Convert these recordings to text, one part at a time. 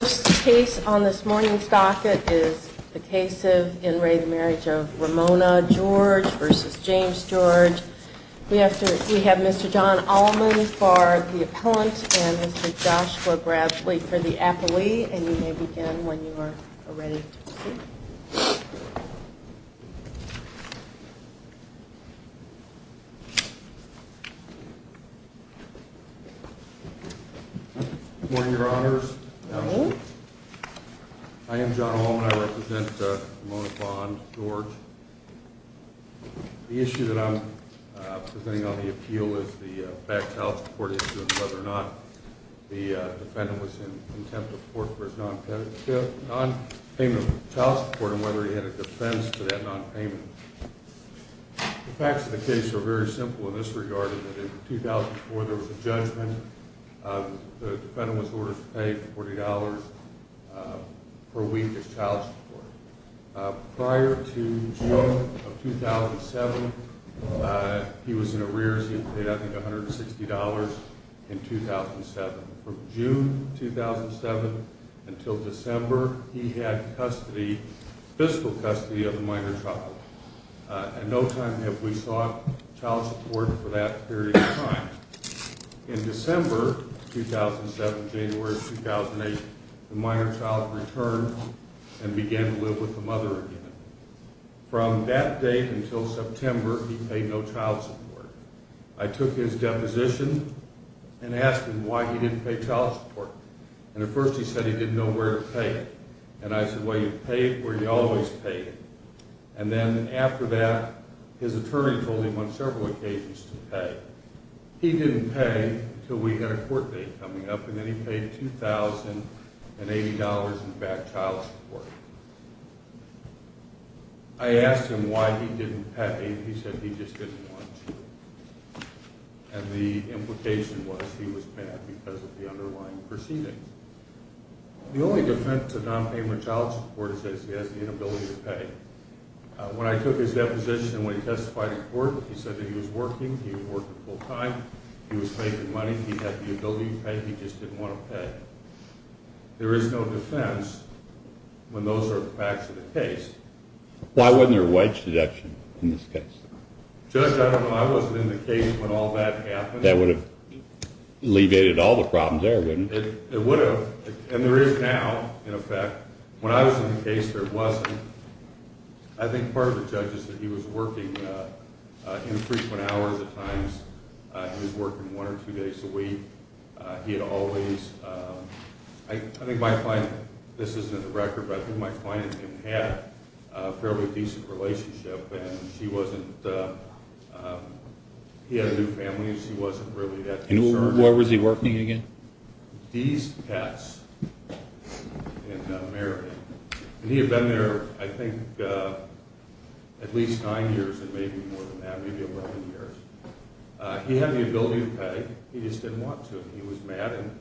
Case on this morning's docket is the case of in re Marriage of Ramona George versus James George. We have to we have Mr John Allman for the appellant and Mr Joshua Bradley for the affilee and you may begin when you are ready to proceed. Good morning, your honors. I am John Allman. I represent Ramona Bond George. The issue that I am presenting on the appeal is the back child support issue and whether or not the defendant was in contempt of court for his non payment of child support and whether he had a defense to that non payment. The facts of the case are very simple in this regard. In 2004 there was a judgment. The defendant was ordered to pay $40 per week as child support. Prior to June of 2007 he was in arrears. He paid I think $160 in 2007. From June 2007 until December he had custody, fiscal custody of the minor child. And no time have we sought child support for that period of time. In December 2007, January 2008 the minor child returned and began to live with the mother again. From that date until September he paid no child support. I took his deposition and asked him why he didn't pay child support. And at first he said he didn't know where to pay it. And I said well you pay it where you always pay it. And then after that his attorney told him on several occasions to pay. He didn't pay until we had a court date coming up and then he paid $2,080 in back child support. I asked him why he didn't pay and he said he just didn't want to. And the implication was he was paid because of the underlying proceedings. The only defense of non-payment of child support is that he has the inability to pay. When I took his deposition and when he testified in court he said that he was working, he was working full time, he was making money, he had the ability to pay, he just didn't want to pay. There is no defense when those are the facts of the case. Why wasn't there a wage deduction in this case? Judge, I don't know. I wasn't in the case when all that happened. That would have alleviated all the problems there, wouldn't it? It would have. And there is now in effect. When I was in the case there wasn't. I think part of the judge is that he was working in frequent hours at times. He was working one or two days a week. He had always, I think my client, this isn't a record, but I think my client had a fairly decent relationship and she wasn't, he had a new family and she wasn't really that concerned. And where was he working again? These pets in Meridian. And he had been there I think at least nine years and maybe more than that, maybe 11 years. He had the ability to pay, he just didn't want to. He was mad and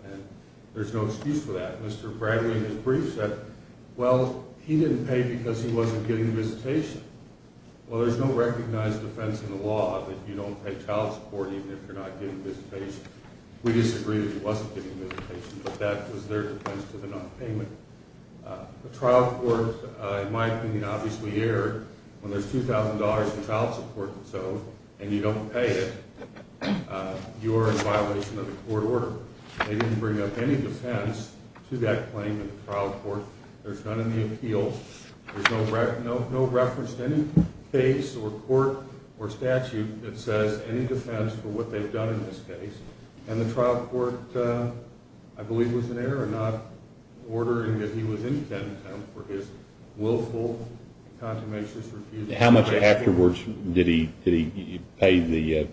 there's no excuse for that. Mr. Bradley in his brief said, well, he didn't pay because he wasn't getting visitation. Well, there's no recognized defense in the law that you don't pay child support even if you're not getting visitation. We disagree that he wasn't getting visitation, but that was their defense to the nonpayment. The trial court, in my opinion, obviously erred when there's $2,000 in child support itself and you don't pay it, you are in violation of the court order. They didn't bring up any defense to that claim in the trial court. There's none in the appeal. There's no reference to any case or court or statute that says any defense for what they've done in this case. And the trial court, I believe, was in error in not ordering that he was in contempt for his willful, contumatious refusal. How much afterwards did he pay the?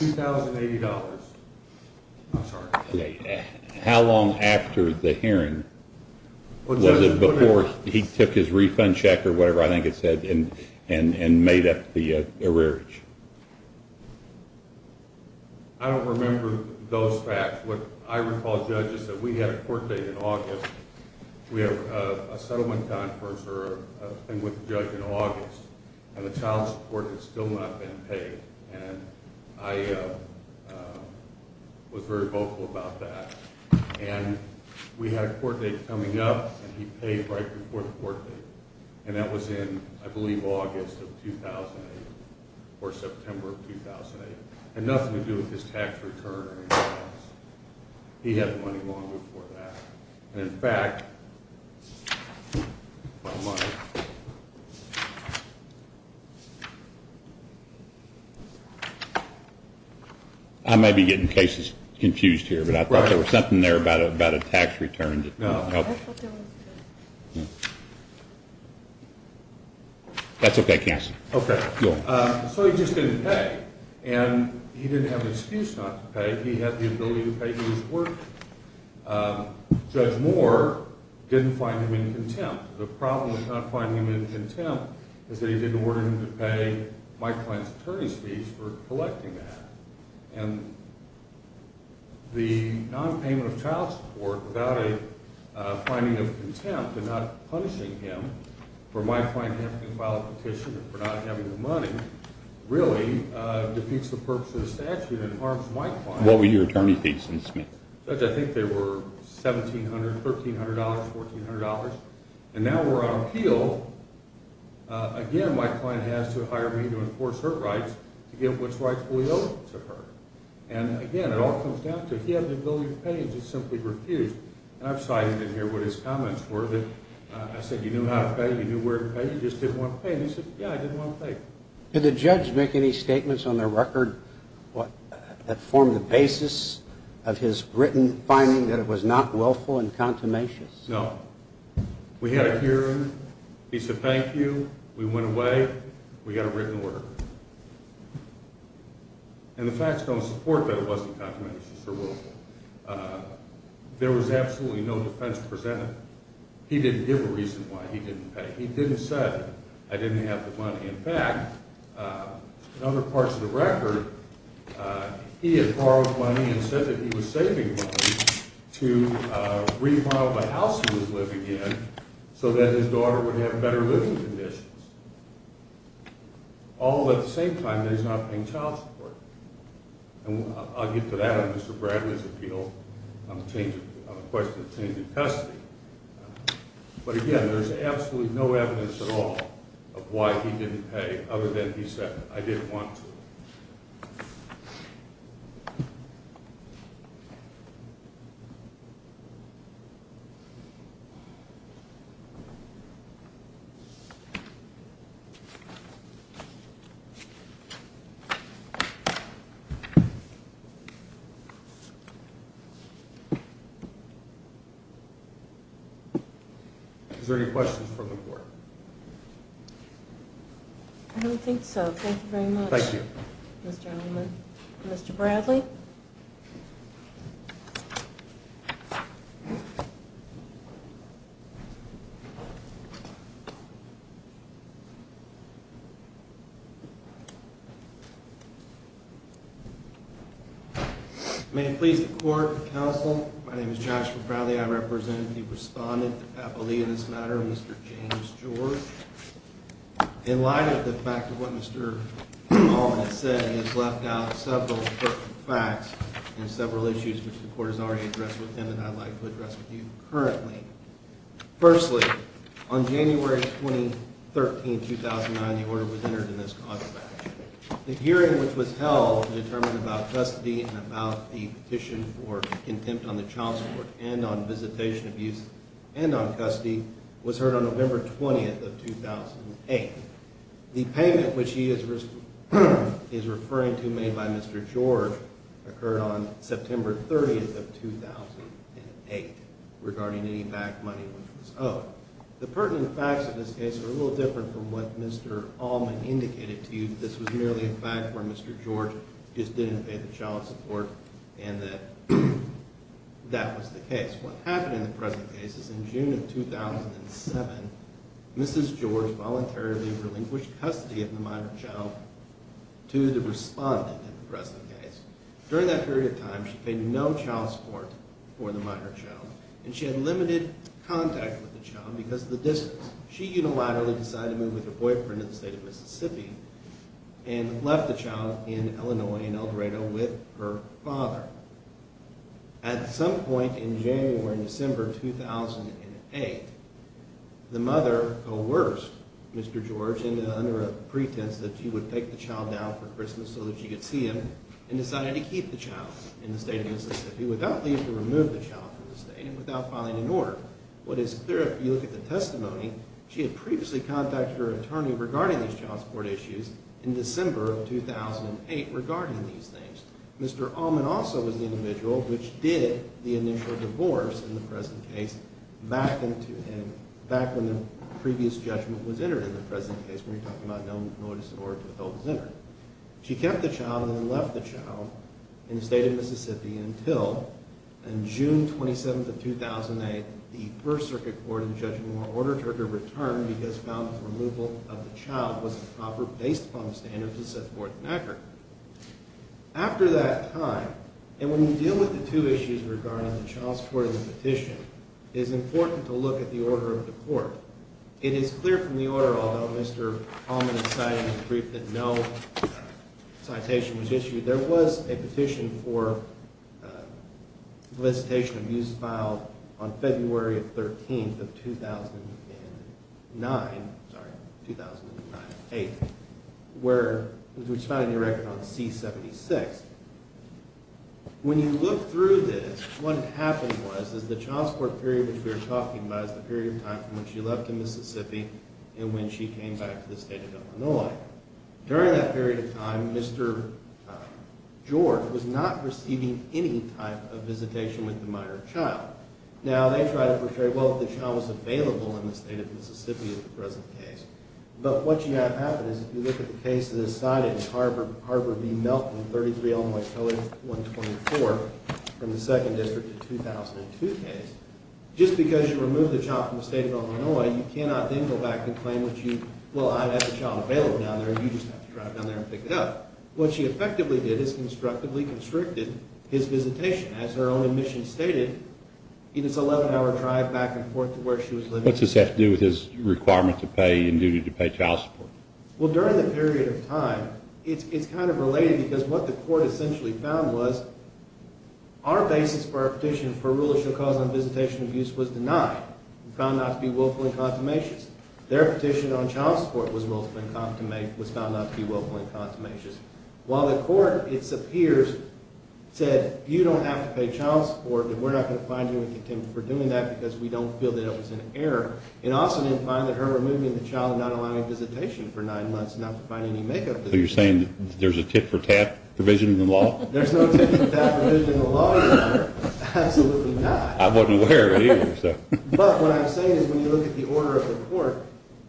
$2,080. I'm sorry. How long after the hearing was it before he took his refund check or whatever I think it said and made up the error? I don't remember those facts. What I recall, Judge, is that we had a court date in August. We had a settlement conference or a thing with the judge in August and the child support had still not been paid. And I was very vocal about that. And we had a court date coming up and he paid right before the court date. And that was in, I believe, August of 2008 or September of 2008. And nothing to do with his tax return or anything else. He had the money long before that. And in fact, the money. I may be getting cases confused here, but I thought there was something there about a tax return. No. That's okay, Cass. So he just didn't pay. And he didn't have an excuse not to pay. He had the ability to pay his work. Judge Moore didn't find him in contempt. The problem with not finding him in contempt is that he didn't order him to pay my client's attorney's fees for collecting that. And the nonpayment of child support without a finding of contempt and not punishing him for my client having to file a petition for not having the money really defeats the purpose of the statute and harms my client. What were your attorney's fees, Mr. Smith? Judge, I think they were $1,700, $1,300, $1,400. And now we're on appeal. Again, my client has to hire me to enforce her rights to give what's rightfully owed to her. And again, it all comes down to he had the ability to pay and just simply refused. And I've cited in here what his comments were that I said you knew how to pay, you knew where to pay, you just didn't want to pay. And he said, yeah, I didn't want to pay. Did the judge make any statements on the record that formed the basis of his written finding that it was not willful and contumacious? No. We had a hearing. He said, thank you. We went away. We got a written order. And the facts don't support that it wasn't contumacious or willful. There was absolutely no defense presented. He didn't give a reason why he didn't pay. He didn't say, I didn't have the money. In fact, in other parts of the record, he had borrowed money and said that he was saving money to re-borrow the house he was living in so that his daughter would have better living conditions. All at the same time, he's not paying child support. And I'll get to that in Mr. Bradley's appeal on the question of changing custody. But again, there's absolutely no evidence at all of why he didn't pay other than he said, I didn't want to. Is there any questions from the court? I don't think so. Thank you very much. Thank you, Mr. Mr. Bradley. May it please the court and counsel, my name is Joshua Bradley. I represent the respondent, the faculty in this matter, Mr. James George. In light of the fact of what Mr. Hall has said, he has left out several facts and several issues which the court has already addressed with him that I'd like to address with you currently. Firstly, on January 23, 2009, the order was entered in this contract. The hearing which was held to determine about custody and about the petition for contempt on the child support and on visitation abuse and on custody was heard on November 20, 2008. The payment which he is referring to made by Mr. George occurred on September 30, 2008, regarding any back money which was owed. The pertinent facts of this case are a little different from what Mr. Allman indicated to you. This was merely a fact where Mr. George just didn't pay the child support and that that was the case. What happened in the present case is in June of 2007, Mrs. George voluntarily relinquished custody of the minor child to the respondent in the present case. During that period of time, she paid no child support for the minor child and she had limited contact with the child because of the distance. She unilaterally decided to move with her boyfriend to the state of Mississippi and left the child in Illinois in El Dorado with her father. At some point in January or December 2008, the mother coerced Mr. George under a pretense that she would take the child down for Christmas so that she could see him and decided to keep the child in the state of Mississippi without leaving to remove the child from the state and without filing an order. What is clear if you look at the testimony, she had previously contacted her attorney regarding these child support issues in December of 2008 regarding these things. Mr. Allman also was the individual which did the initial divorce in the present case back when the previous judgment was entered in the present case when you're talking about no notice in order to withhold his interest. She kept the child and then left the child in the state of Mississippi until June 27th of 2008. The First Circuit Court in Judge Moore ordered her to return because found that the removal of the child was a proper based upon the standards of Seth Gordon Acker. After that time, and when you deal with the two issues regarding the child support and the petition, it is important to look at the order of the court. It is clear from the order, although Mr. Allman has cited in his brief that no citation was issued, there was a petition for solicitation of use filed on February 13th of 2009, sorry, 2008, which found a new record on C-76. When you look through this, what happened was the child support period which we are talking about is the period of time when she left the Mississippi and when she came back to the state of Illinois. During that period of time, Mr. George was not receiving any type of visitation with the minor child. Now, they tried to portray, well, if the child was available in the state of Mississippi in the present case. But what you have happened is if you look at the case that is cited in Harvard v. Melton, 33, Illinois Code 124, from the 2nd District of 2002 case, just because you remove the child from the state of Illinois, you cannot then go back and claim that you, well, I have the child available down there and you just have to drive down there and pick it up. What she effectively did is constructively constricted his visitation as her own admission stated in his 11-hour drive back and forth to where she was living. What does this have to do with his requirement to pay and duty to pay child support? Well, during the period of time, it's kind of related because what the court essentially found was our basis for our petition for rule of show cause on visitation abuse was denied. We found not to be willful and consummations. Their petition on child support was found not to be willful and consummations. While the court, it appears, said you don't have to pay child support and we're not going to find you in contempt for doing that because we don't feel that it was an error. It also didn't find that her removing the child and not allowing visitation for nine months and not providing any make-up. So you're saying there's a tit-for-tat provision in the law? There's no tit-for-tat provision in the law. Absolutely not. I wasn't aware of it either. But what I'm saying is when you look at the order of the court,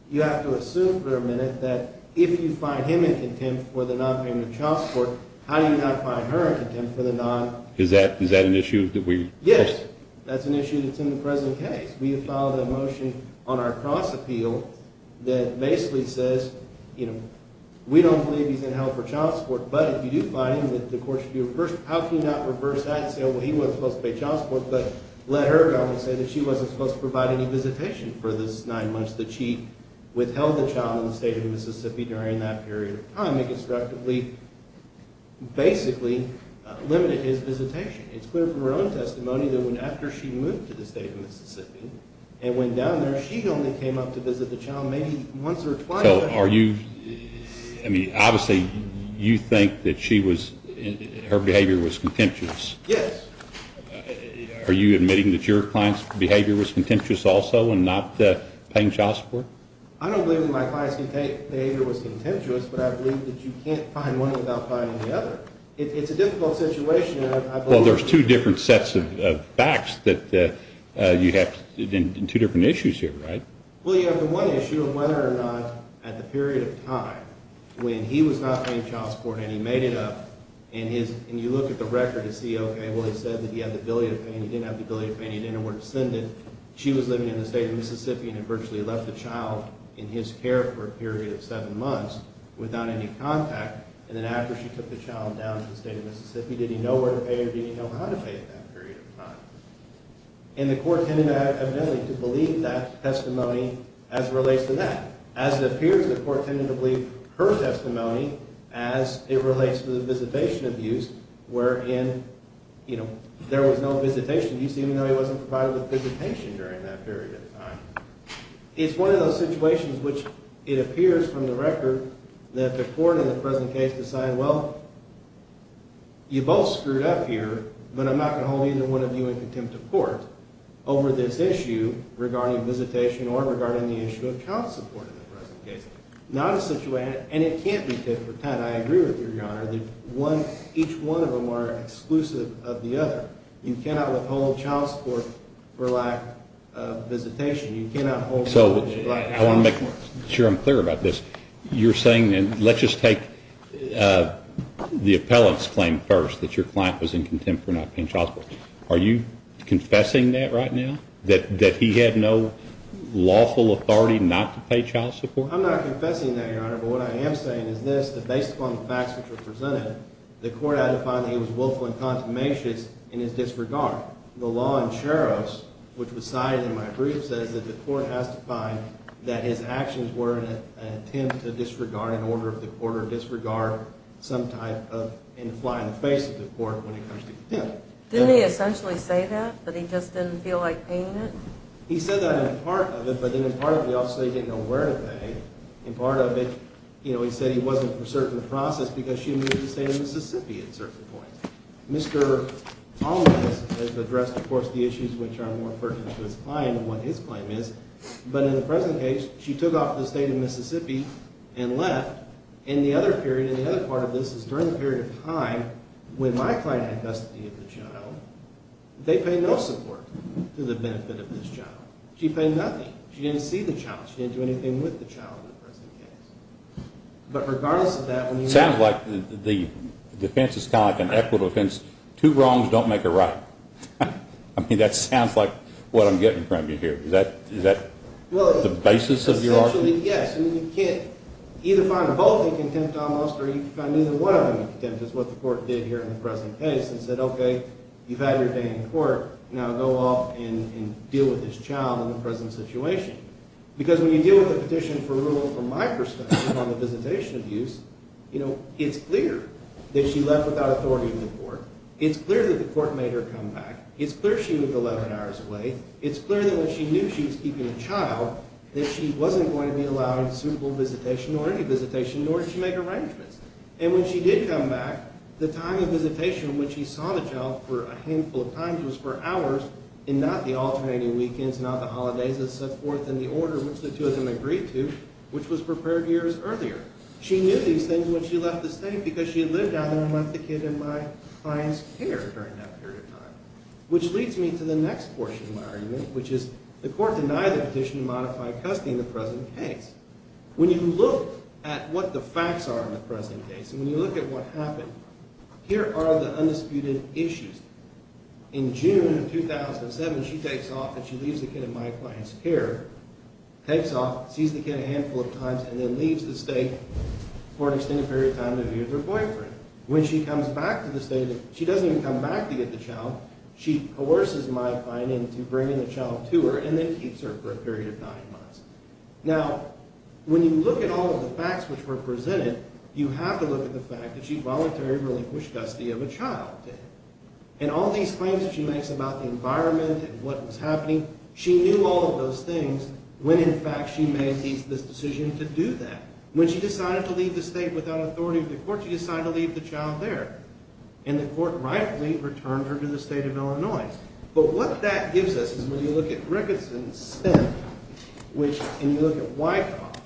you have to assume for a minute that if you find him in contempt for the nonpayment of child support, how do you not find her in contempt for the non? Is that an issue that we? Yes. That's an issue that's in the present case. We have filed a motion on our cross-appeal that basically says, you know, we don't believe he's in hell for child support, but if you do find him, how can you not reverse that and say, oh, well, he wasn't supposed to pay child support, but let her go and say that she wasn't supposed to provide any visitation for those nine months that she withheld the child in the state of Mississippi during that period of time and constructively basically limited his visitation. It's clear from her own testimony that after she moved to the state of Mississippi and went down there, she only came up to visit the child maybe once or twice. So are you, I mean, obviously you think that she was, her behavior was contemptuous. Yes. Are you admitting that your client's behavior was contemptuous also in not paying child support? I don't believe that my client's behavior was contemptuous, but I believe that you can't find one without finding the other. It's a difficult situation. Well, there's two different sets of facts that you have in two different issues here, right? Well, you have the one issue of whether or not at the period of time when he was not paying child support and he made it up and you look at the record to see, okay, well, he said that he had the ability to pay and he didn't have the ability to pay and he didn't know where to send it. She was living in the state of Mississippi and had virtually left the child in his care for a period of seven months without any contact. And then after she took the child down to the state of Mississippi, did he know where to pay or did he know how to pay at that period of time? And the court tended to have the ability to believe that testimony as it relates to that. As it appears, the court tended to believe her testimony as it relates to the visitation abuse, wherein, you know, there was no visitation abuse even though he wasn't provided with visitation during that period of time. It's one of those situations which it appears from the record that the court in the present case decided, well, you both screwed up here, but I'm not going to hold either one of you in contempt of court over this issue regarding visitation or regarding the issue of child support in the present case. Not a situation, and it can't be different. I agree with you, Your Honor, that each one of them are exclusive of the other. You cannot withhold child support for lack of visitation. You cannot withhold child support. I want to make sure I'm clear about this. You're saying, and let's just take the appellant's claim first, that your client was in contempt for not paying child support. Are you confessing that right now, that he had no lawful authority not to pay child support? I'm not confessing that, Your Honor, but what I am saying is this, that based upon the facts which were presented, the court had to find that he was willful and contumacious in his disregard. The law in Charos, which was cited in my brief, says that the court has to find that his actions were an attempt to disregard an order of the court or disregard some type of in the fly in the face of the court when it comes to contempt. Didn't he essentially say that, that he just didn't feel like paying it? He said that in part of it, but then in part of it he also said he didn't know where to pay. In part of it, you know, he said he wasn't for certain process because she moved to the state of Mississippi at a certain point. Mr. Almas has addressed, of course, the issues which are more pertinent to his client and what his claim is. But in the present case, she took off to the state of Mississippi and left. And the other period, and the other part of this is during the period of time when my client had custody of the child, they paid no support to the benefit of this child. She paid nothing. She didn't see the child. She didn't do anything with the child in the present case. But regardless of that, when you have... It sounds like the defense is kind of like an equitable defense. Two wrongs don't make a right. I mean, that sounds like what I'm getting from you here. Is that the basis of your argument? Essentially, yes. I mean, you can't either find them both in contempt almost or you can find neither one of them in contempt. That's what the court did here in the present case. It said, okay, you've had your day in court. Now go off and deal with this child in the present situation. Because when you deal with a petition for removal from my perspective on the visitation abuse, you know, it's clear that she left without authority in the court. It's clear that the court made her come back. It's clear she was 11 hours away. It's clear that when she knew she was keeping a child, that she wasn't going to be allowed suitable visitation or any visitation, nor did she make arrangements. And when she did come back, the time of visitation when she saw the child for a handful of times was for hours and not the alternating weekends, not the holidays, and so forth, in the order in which the two of them agreed to, which was prepared years earlier. She knew these things when she left the state because she had lived out there and left the kid in my client's care during that period of time. Which leads me to the next portion of my argument, which is the court denied the petition to modify custody in the present case. When you look at what the facts are in the present case and when you look at what happened, here are the undisputed issues. In June of 2007, she takes off and she leaves the kid in my client's care, takes off, sees the kid a handful of times, and then leaves the state for an extended period of time to be with her boyfriend. When she comes back to the state, she doesn't even come back to get the child. She coerces my client into bringing the child to her and then keeps her for a period of nine months. Now, when you look at all of the facts which were presented, you have to look at the fact that she voluntarily relinquished custody of a child. And all these claims that she makes about the environment and what was happening, she knew all of those things when, in fact, she made this decision to do that. When she decided to leave the state without authority of the court, she decided to leave the child there. And the court rightfully returned her to the state of Illinois. But what that gives us is when you look at Rickardson's sentence, and you look at Wyckoff,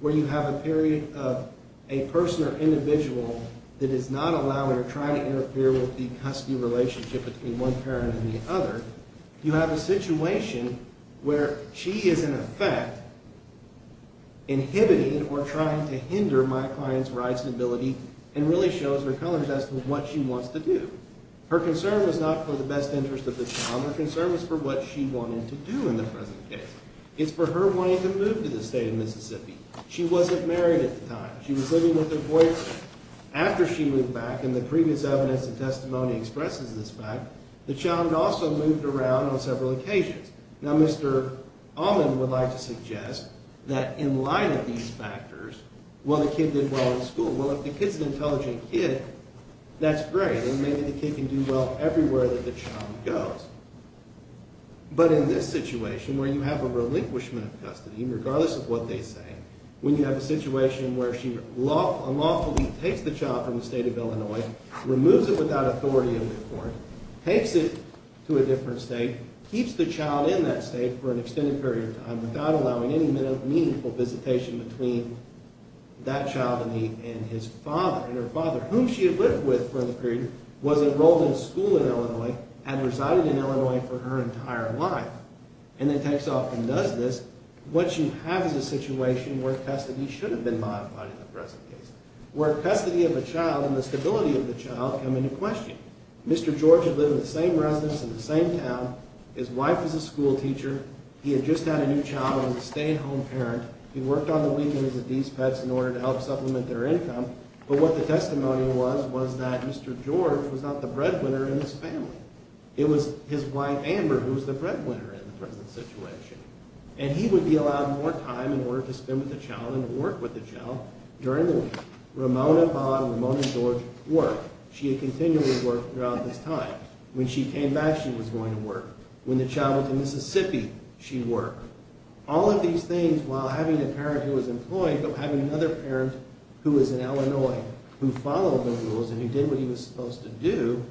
where you have a period of a person or individual that is not allowing or trying to interfere with the custody relationship between one parent and the other, you have a situation where she is, in effect, inhibiting or trying to hinder my client's rights and ability and really shows her colors as to what she wants to do. Her concern was not for the best interest of the child. Her concern was for what she wanted to do in the present case. It's for her wanting to move to the state of Mississippi. She wasn't married at the time. She was living with her boyfriend. After she moved back, and the previous evidence and testimony expresses this fact, the child also moved around on several occasions. Now, Mr. Allman would like to suggest that in light of these factors, well, the kid did well in school. Well, if the kid's an intelligent kid, that's great. And maybe the kid can do well everywhere that the child goes. But in this situation, where you have a relinquishment of custody, regardless of what they say, when you have a situation where she unlawfully takes the child from the state of Illinois, removes it without authority of the court, takes it to a different state, keeps the child in that state for an extended period of time without allowing any meaningful visitation between that child and his father, whom she had lived with for the period, was enrolled in school in Illinois, and resided in Illinois for her entire life, and then takes off and does this, what you have is a situation where custody should have been modified in the present case, where custody of a child and the stability of the child come into question. Mr. George had lived in the same residence in the same town. His wife was a schoolteacher. He had just had a new child and was a stay-at-home parent. He worked on the weekends with these pets in order to help supplement their income. But what the testimony was was that Mr. George was not the breadwinner in this family. It was his wife, Amber, who was the breadwinner in the present situation. And he would be allowed more time in order to spend with the child and to work with the child during the week. Ramona, Bob, Ramona and George worked. She had continually worked throughout this time. When she came back, she was going to work. When the child went to Mississippi, she worked. All of these things, while having a parent who was employed, but having another parent who was in Illinois who followed the rules and who did what he was supposed to do,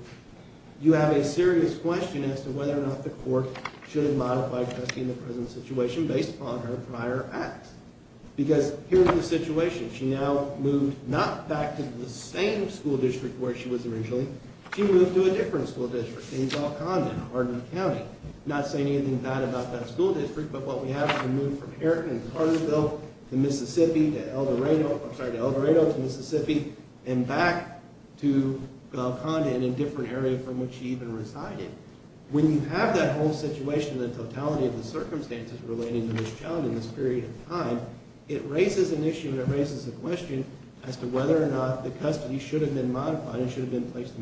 you have a serious question as to whether or not the court should have modified custody in the present situation based upon her prior acts. Because here's the situation. She now moved not back to the same school district where she was originally. She moved to a different school district in Waukonda in Hardin County. I'm not saying anything bad about that school district, but what we have is a move from Hardin to Mississippi to El Dorado to Mississippi and back to Waukonda in a different area from which she even resided. When you have that whole situation, the totality of the circumstances relating to this child in this period of time, it raises an issue and it raises a question as to whether or not the custody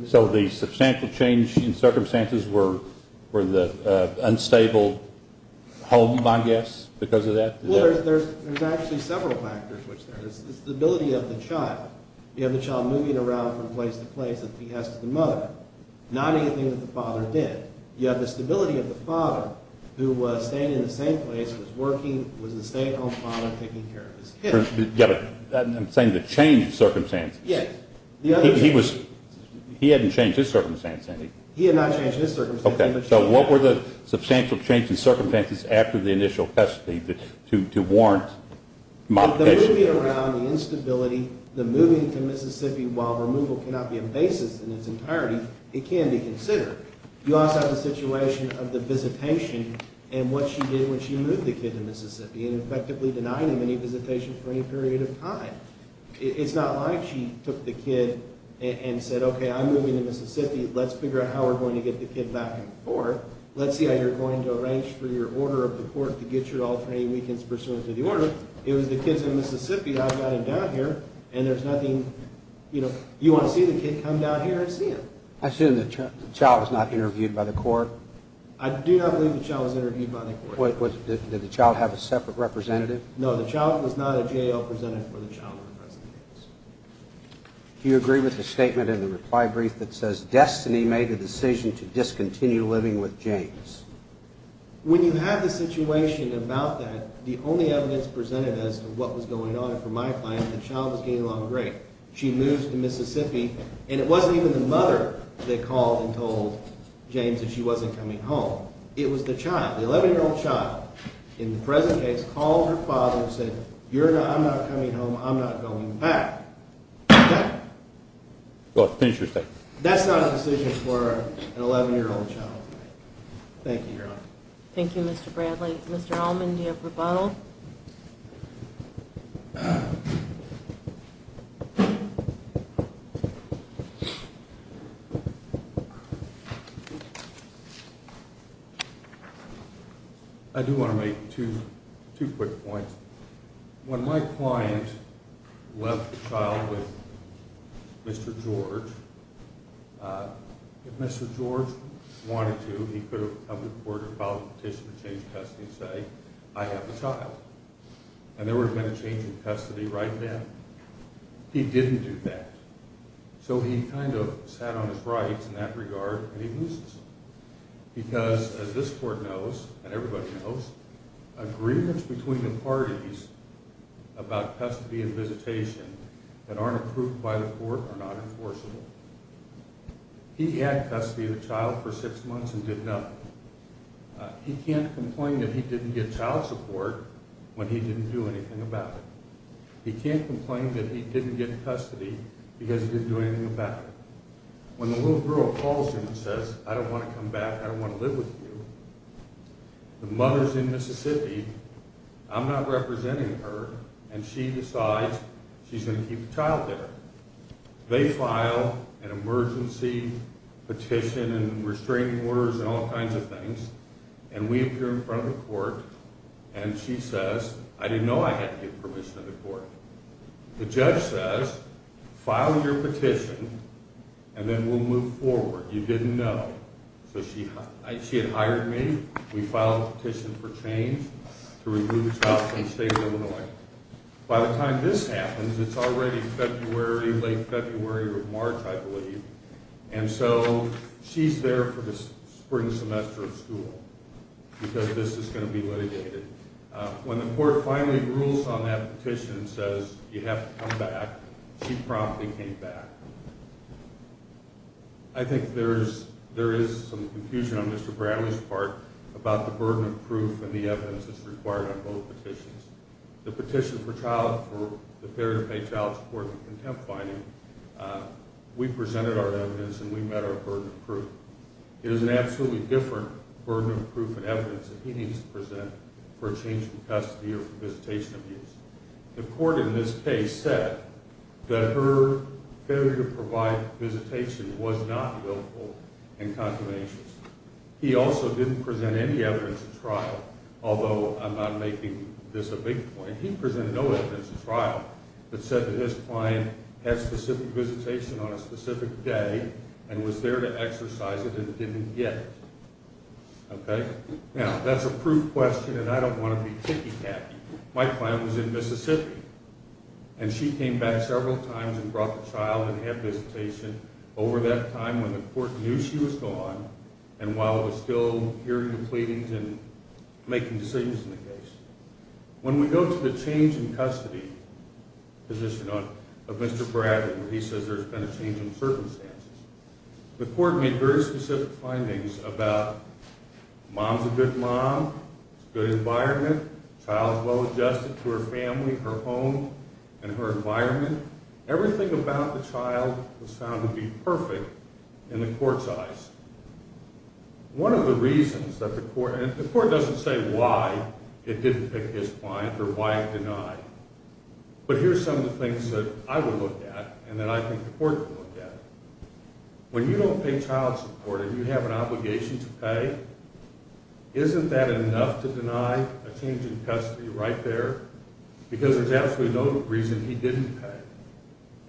So the substantial change in circumstances were the unstable home, my guess, because of that? Well, there's actually several factors. There's the stability of the child. You have the child moving around from place to place as he has to the mother. Not anything that the father did. You have the stability of the father who was staying in the same place, was working, was a stay-at-home father taking care of his kids. I'm saying the change in circumstances. Yes. He hadn't changed his circumstance, had he? He had not changed his circumstance. Okay. So what were the substantial change in circumstances after the initial custody to warrant modification? The moving around, the instability, the moving to Mississippi, while removal cannot be a basis in its entirety, it can be considered. You also have the situation of the visitation and what she did when she moved the kid to Mississippi and effectively denied him any visitation for any period of time. It's not like she took the kid and said, okay, I'm moving to Mississippi. Let's figure out how we're going to get the kid back and forth. Let's see how you're going to arrange for your order of the court to get you all for any weekends pursuant to the order. It was the kids in Mississippi. I've got him down here, and there's nothing. You want to see the kid, come down here and see him. Assuming the child was not interviewed by the court? I do not believe the child was interviewed by the court. Did the child have a separate representative? No, the child was not a J.L. presented for the child in the present case. Do you agree with the statement in the reply brief that says, destiny made the decision to discontinue living with James? When you have the situation about that, the only evidence presented as to what was going on for my client, the child was getting along great. She moved to Mississippi, and it wasn't even the mother that called and told James that she wasn't coming home. It was the child, the 11-year-old child, in the present case, called her father and said, I'm not coming home, I'm not going back. Okay? Finish your statement. That's not a decision for an 11-year-old child. Thank you, Your Honor. Thank you, Mr. Bradley. Mr. Allman, do you have rebuttal? I do want to make two quick points. When my client left the child with Mr. George, if Mr. George wanted to, he could have come to the court and filed a petition to change custody and say, I have the child. And there would have been a change in custody right then. He didn't do that. So he kind of sat on his rights in that regard, and he loses it. Because, as this court knows, and everybody knows, agreements between the parties about custody and visitation that aren't approved by the court are not enforceable. He had custody of the child for six months and did nothing. He can't complain that he didn't get child support when he didn't do anything about it. He can't complain that he didn't get custody because he didn't do anything about it. When the little girl calls him and says, I don't want to come back, I don't want to live with you, the mother's in Mississippi, I'm not representing her, and she decides she's going to keep the child there. They file an emergency petition and restraining orders and all kinds of things, and we appear in front of the court, and she says, I didn't know I had to give permission to the court. The judge says, file your petition, and then we'll move forward. You didn't know. So she had hired me. We filed a petition for change to remove the child from the state of Illinois. By the time this happens, it's already February, late February or March, I believe, and so she's there for the spring semester of school because this is going to be litigated. When the court finally rules on that petition and says you have to come back, she promptly came back. I think there is some confusion on Mr. Bradley's part about the burden of proof and the evidence that's required on both petitions. The petition for the Fair to Pay Child Support and Contempt finding, we presented our evidence and we met our burden of proof. It is an absolutely different burden of proof and evidence that he needs to present for a change in custody or for visitation abuse. The court in this case said that her failure to provide visitation was not willful and consummationist. He also didn't present any evidence at trial, although I'm not making this a big point. He presented no evidence at trial that said that his client had specific visitation on a specific day and was there to exercise it and didn't get it. Now, that's a proof question and I don't want to be ticky-tacky. My client was in Mississippi and she came back several times and brought the child and had visitation over that time when the court knew she was gone and while it was still hearing the pleadings and making decisions in the case. When we go to the change in custody position of Mr. Bradley where he says there's been a change in circumstances, the court made very specific findings about mom's a good mom, good environment, child's well-adjusted to her family, her home, and her environment. Everything about the child was found to be perfect in the court's eyes. One of the reasons that the court, and the court doesn't say why it didn't pick his client or why it denied, but here's some of the things that I would look at and that I think the court would look at. When you don't pay child support and you have an obligation to pay, isn't that enough to deny a change in custody right there? Because there's absolutely no reason he didn't pay.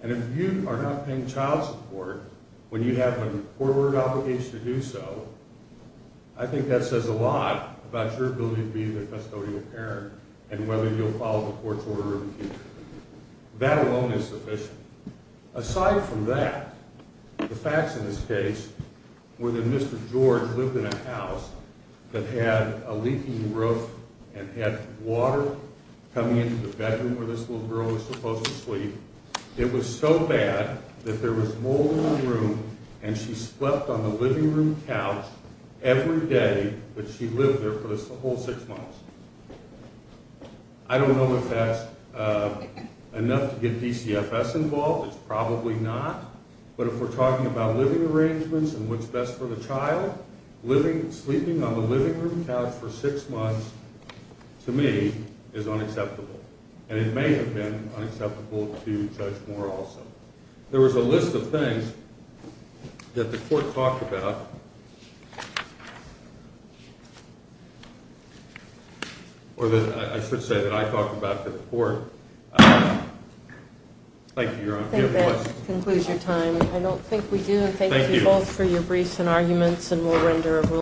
And if you are not paying child support when you have a court-ordered obligation to do so, I think that says a lot about your ability to be the custodial parent and whether you'll follow the court's order in the future. That alone is sufficient. Aside from that, the facts in this case were that Mr. George lived in a house that had a leaking roof and had water coming into the bedroom where this little girl was supposed to sleep. It was so bad that there was mold in the room and she slept on the living room couch every day that she lived there for the whole six months. I don't know if that's enough to get DCFS involved. It's probably not. But if we're talking about living arrangements and what's best for the child, sleeping on the living room couch for six months, to me, is unacceptable. And it may have been unacceptable to Judge Moore also. There was a list of things that the court talked about, or that I should say that I talked about to the court. Thank you, Your Honor. I think that concludes your time. I don't think we do. Thank you both for your briefs and arguments, and we'll render a ruling.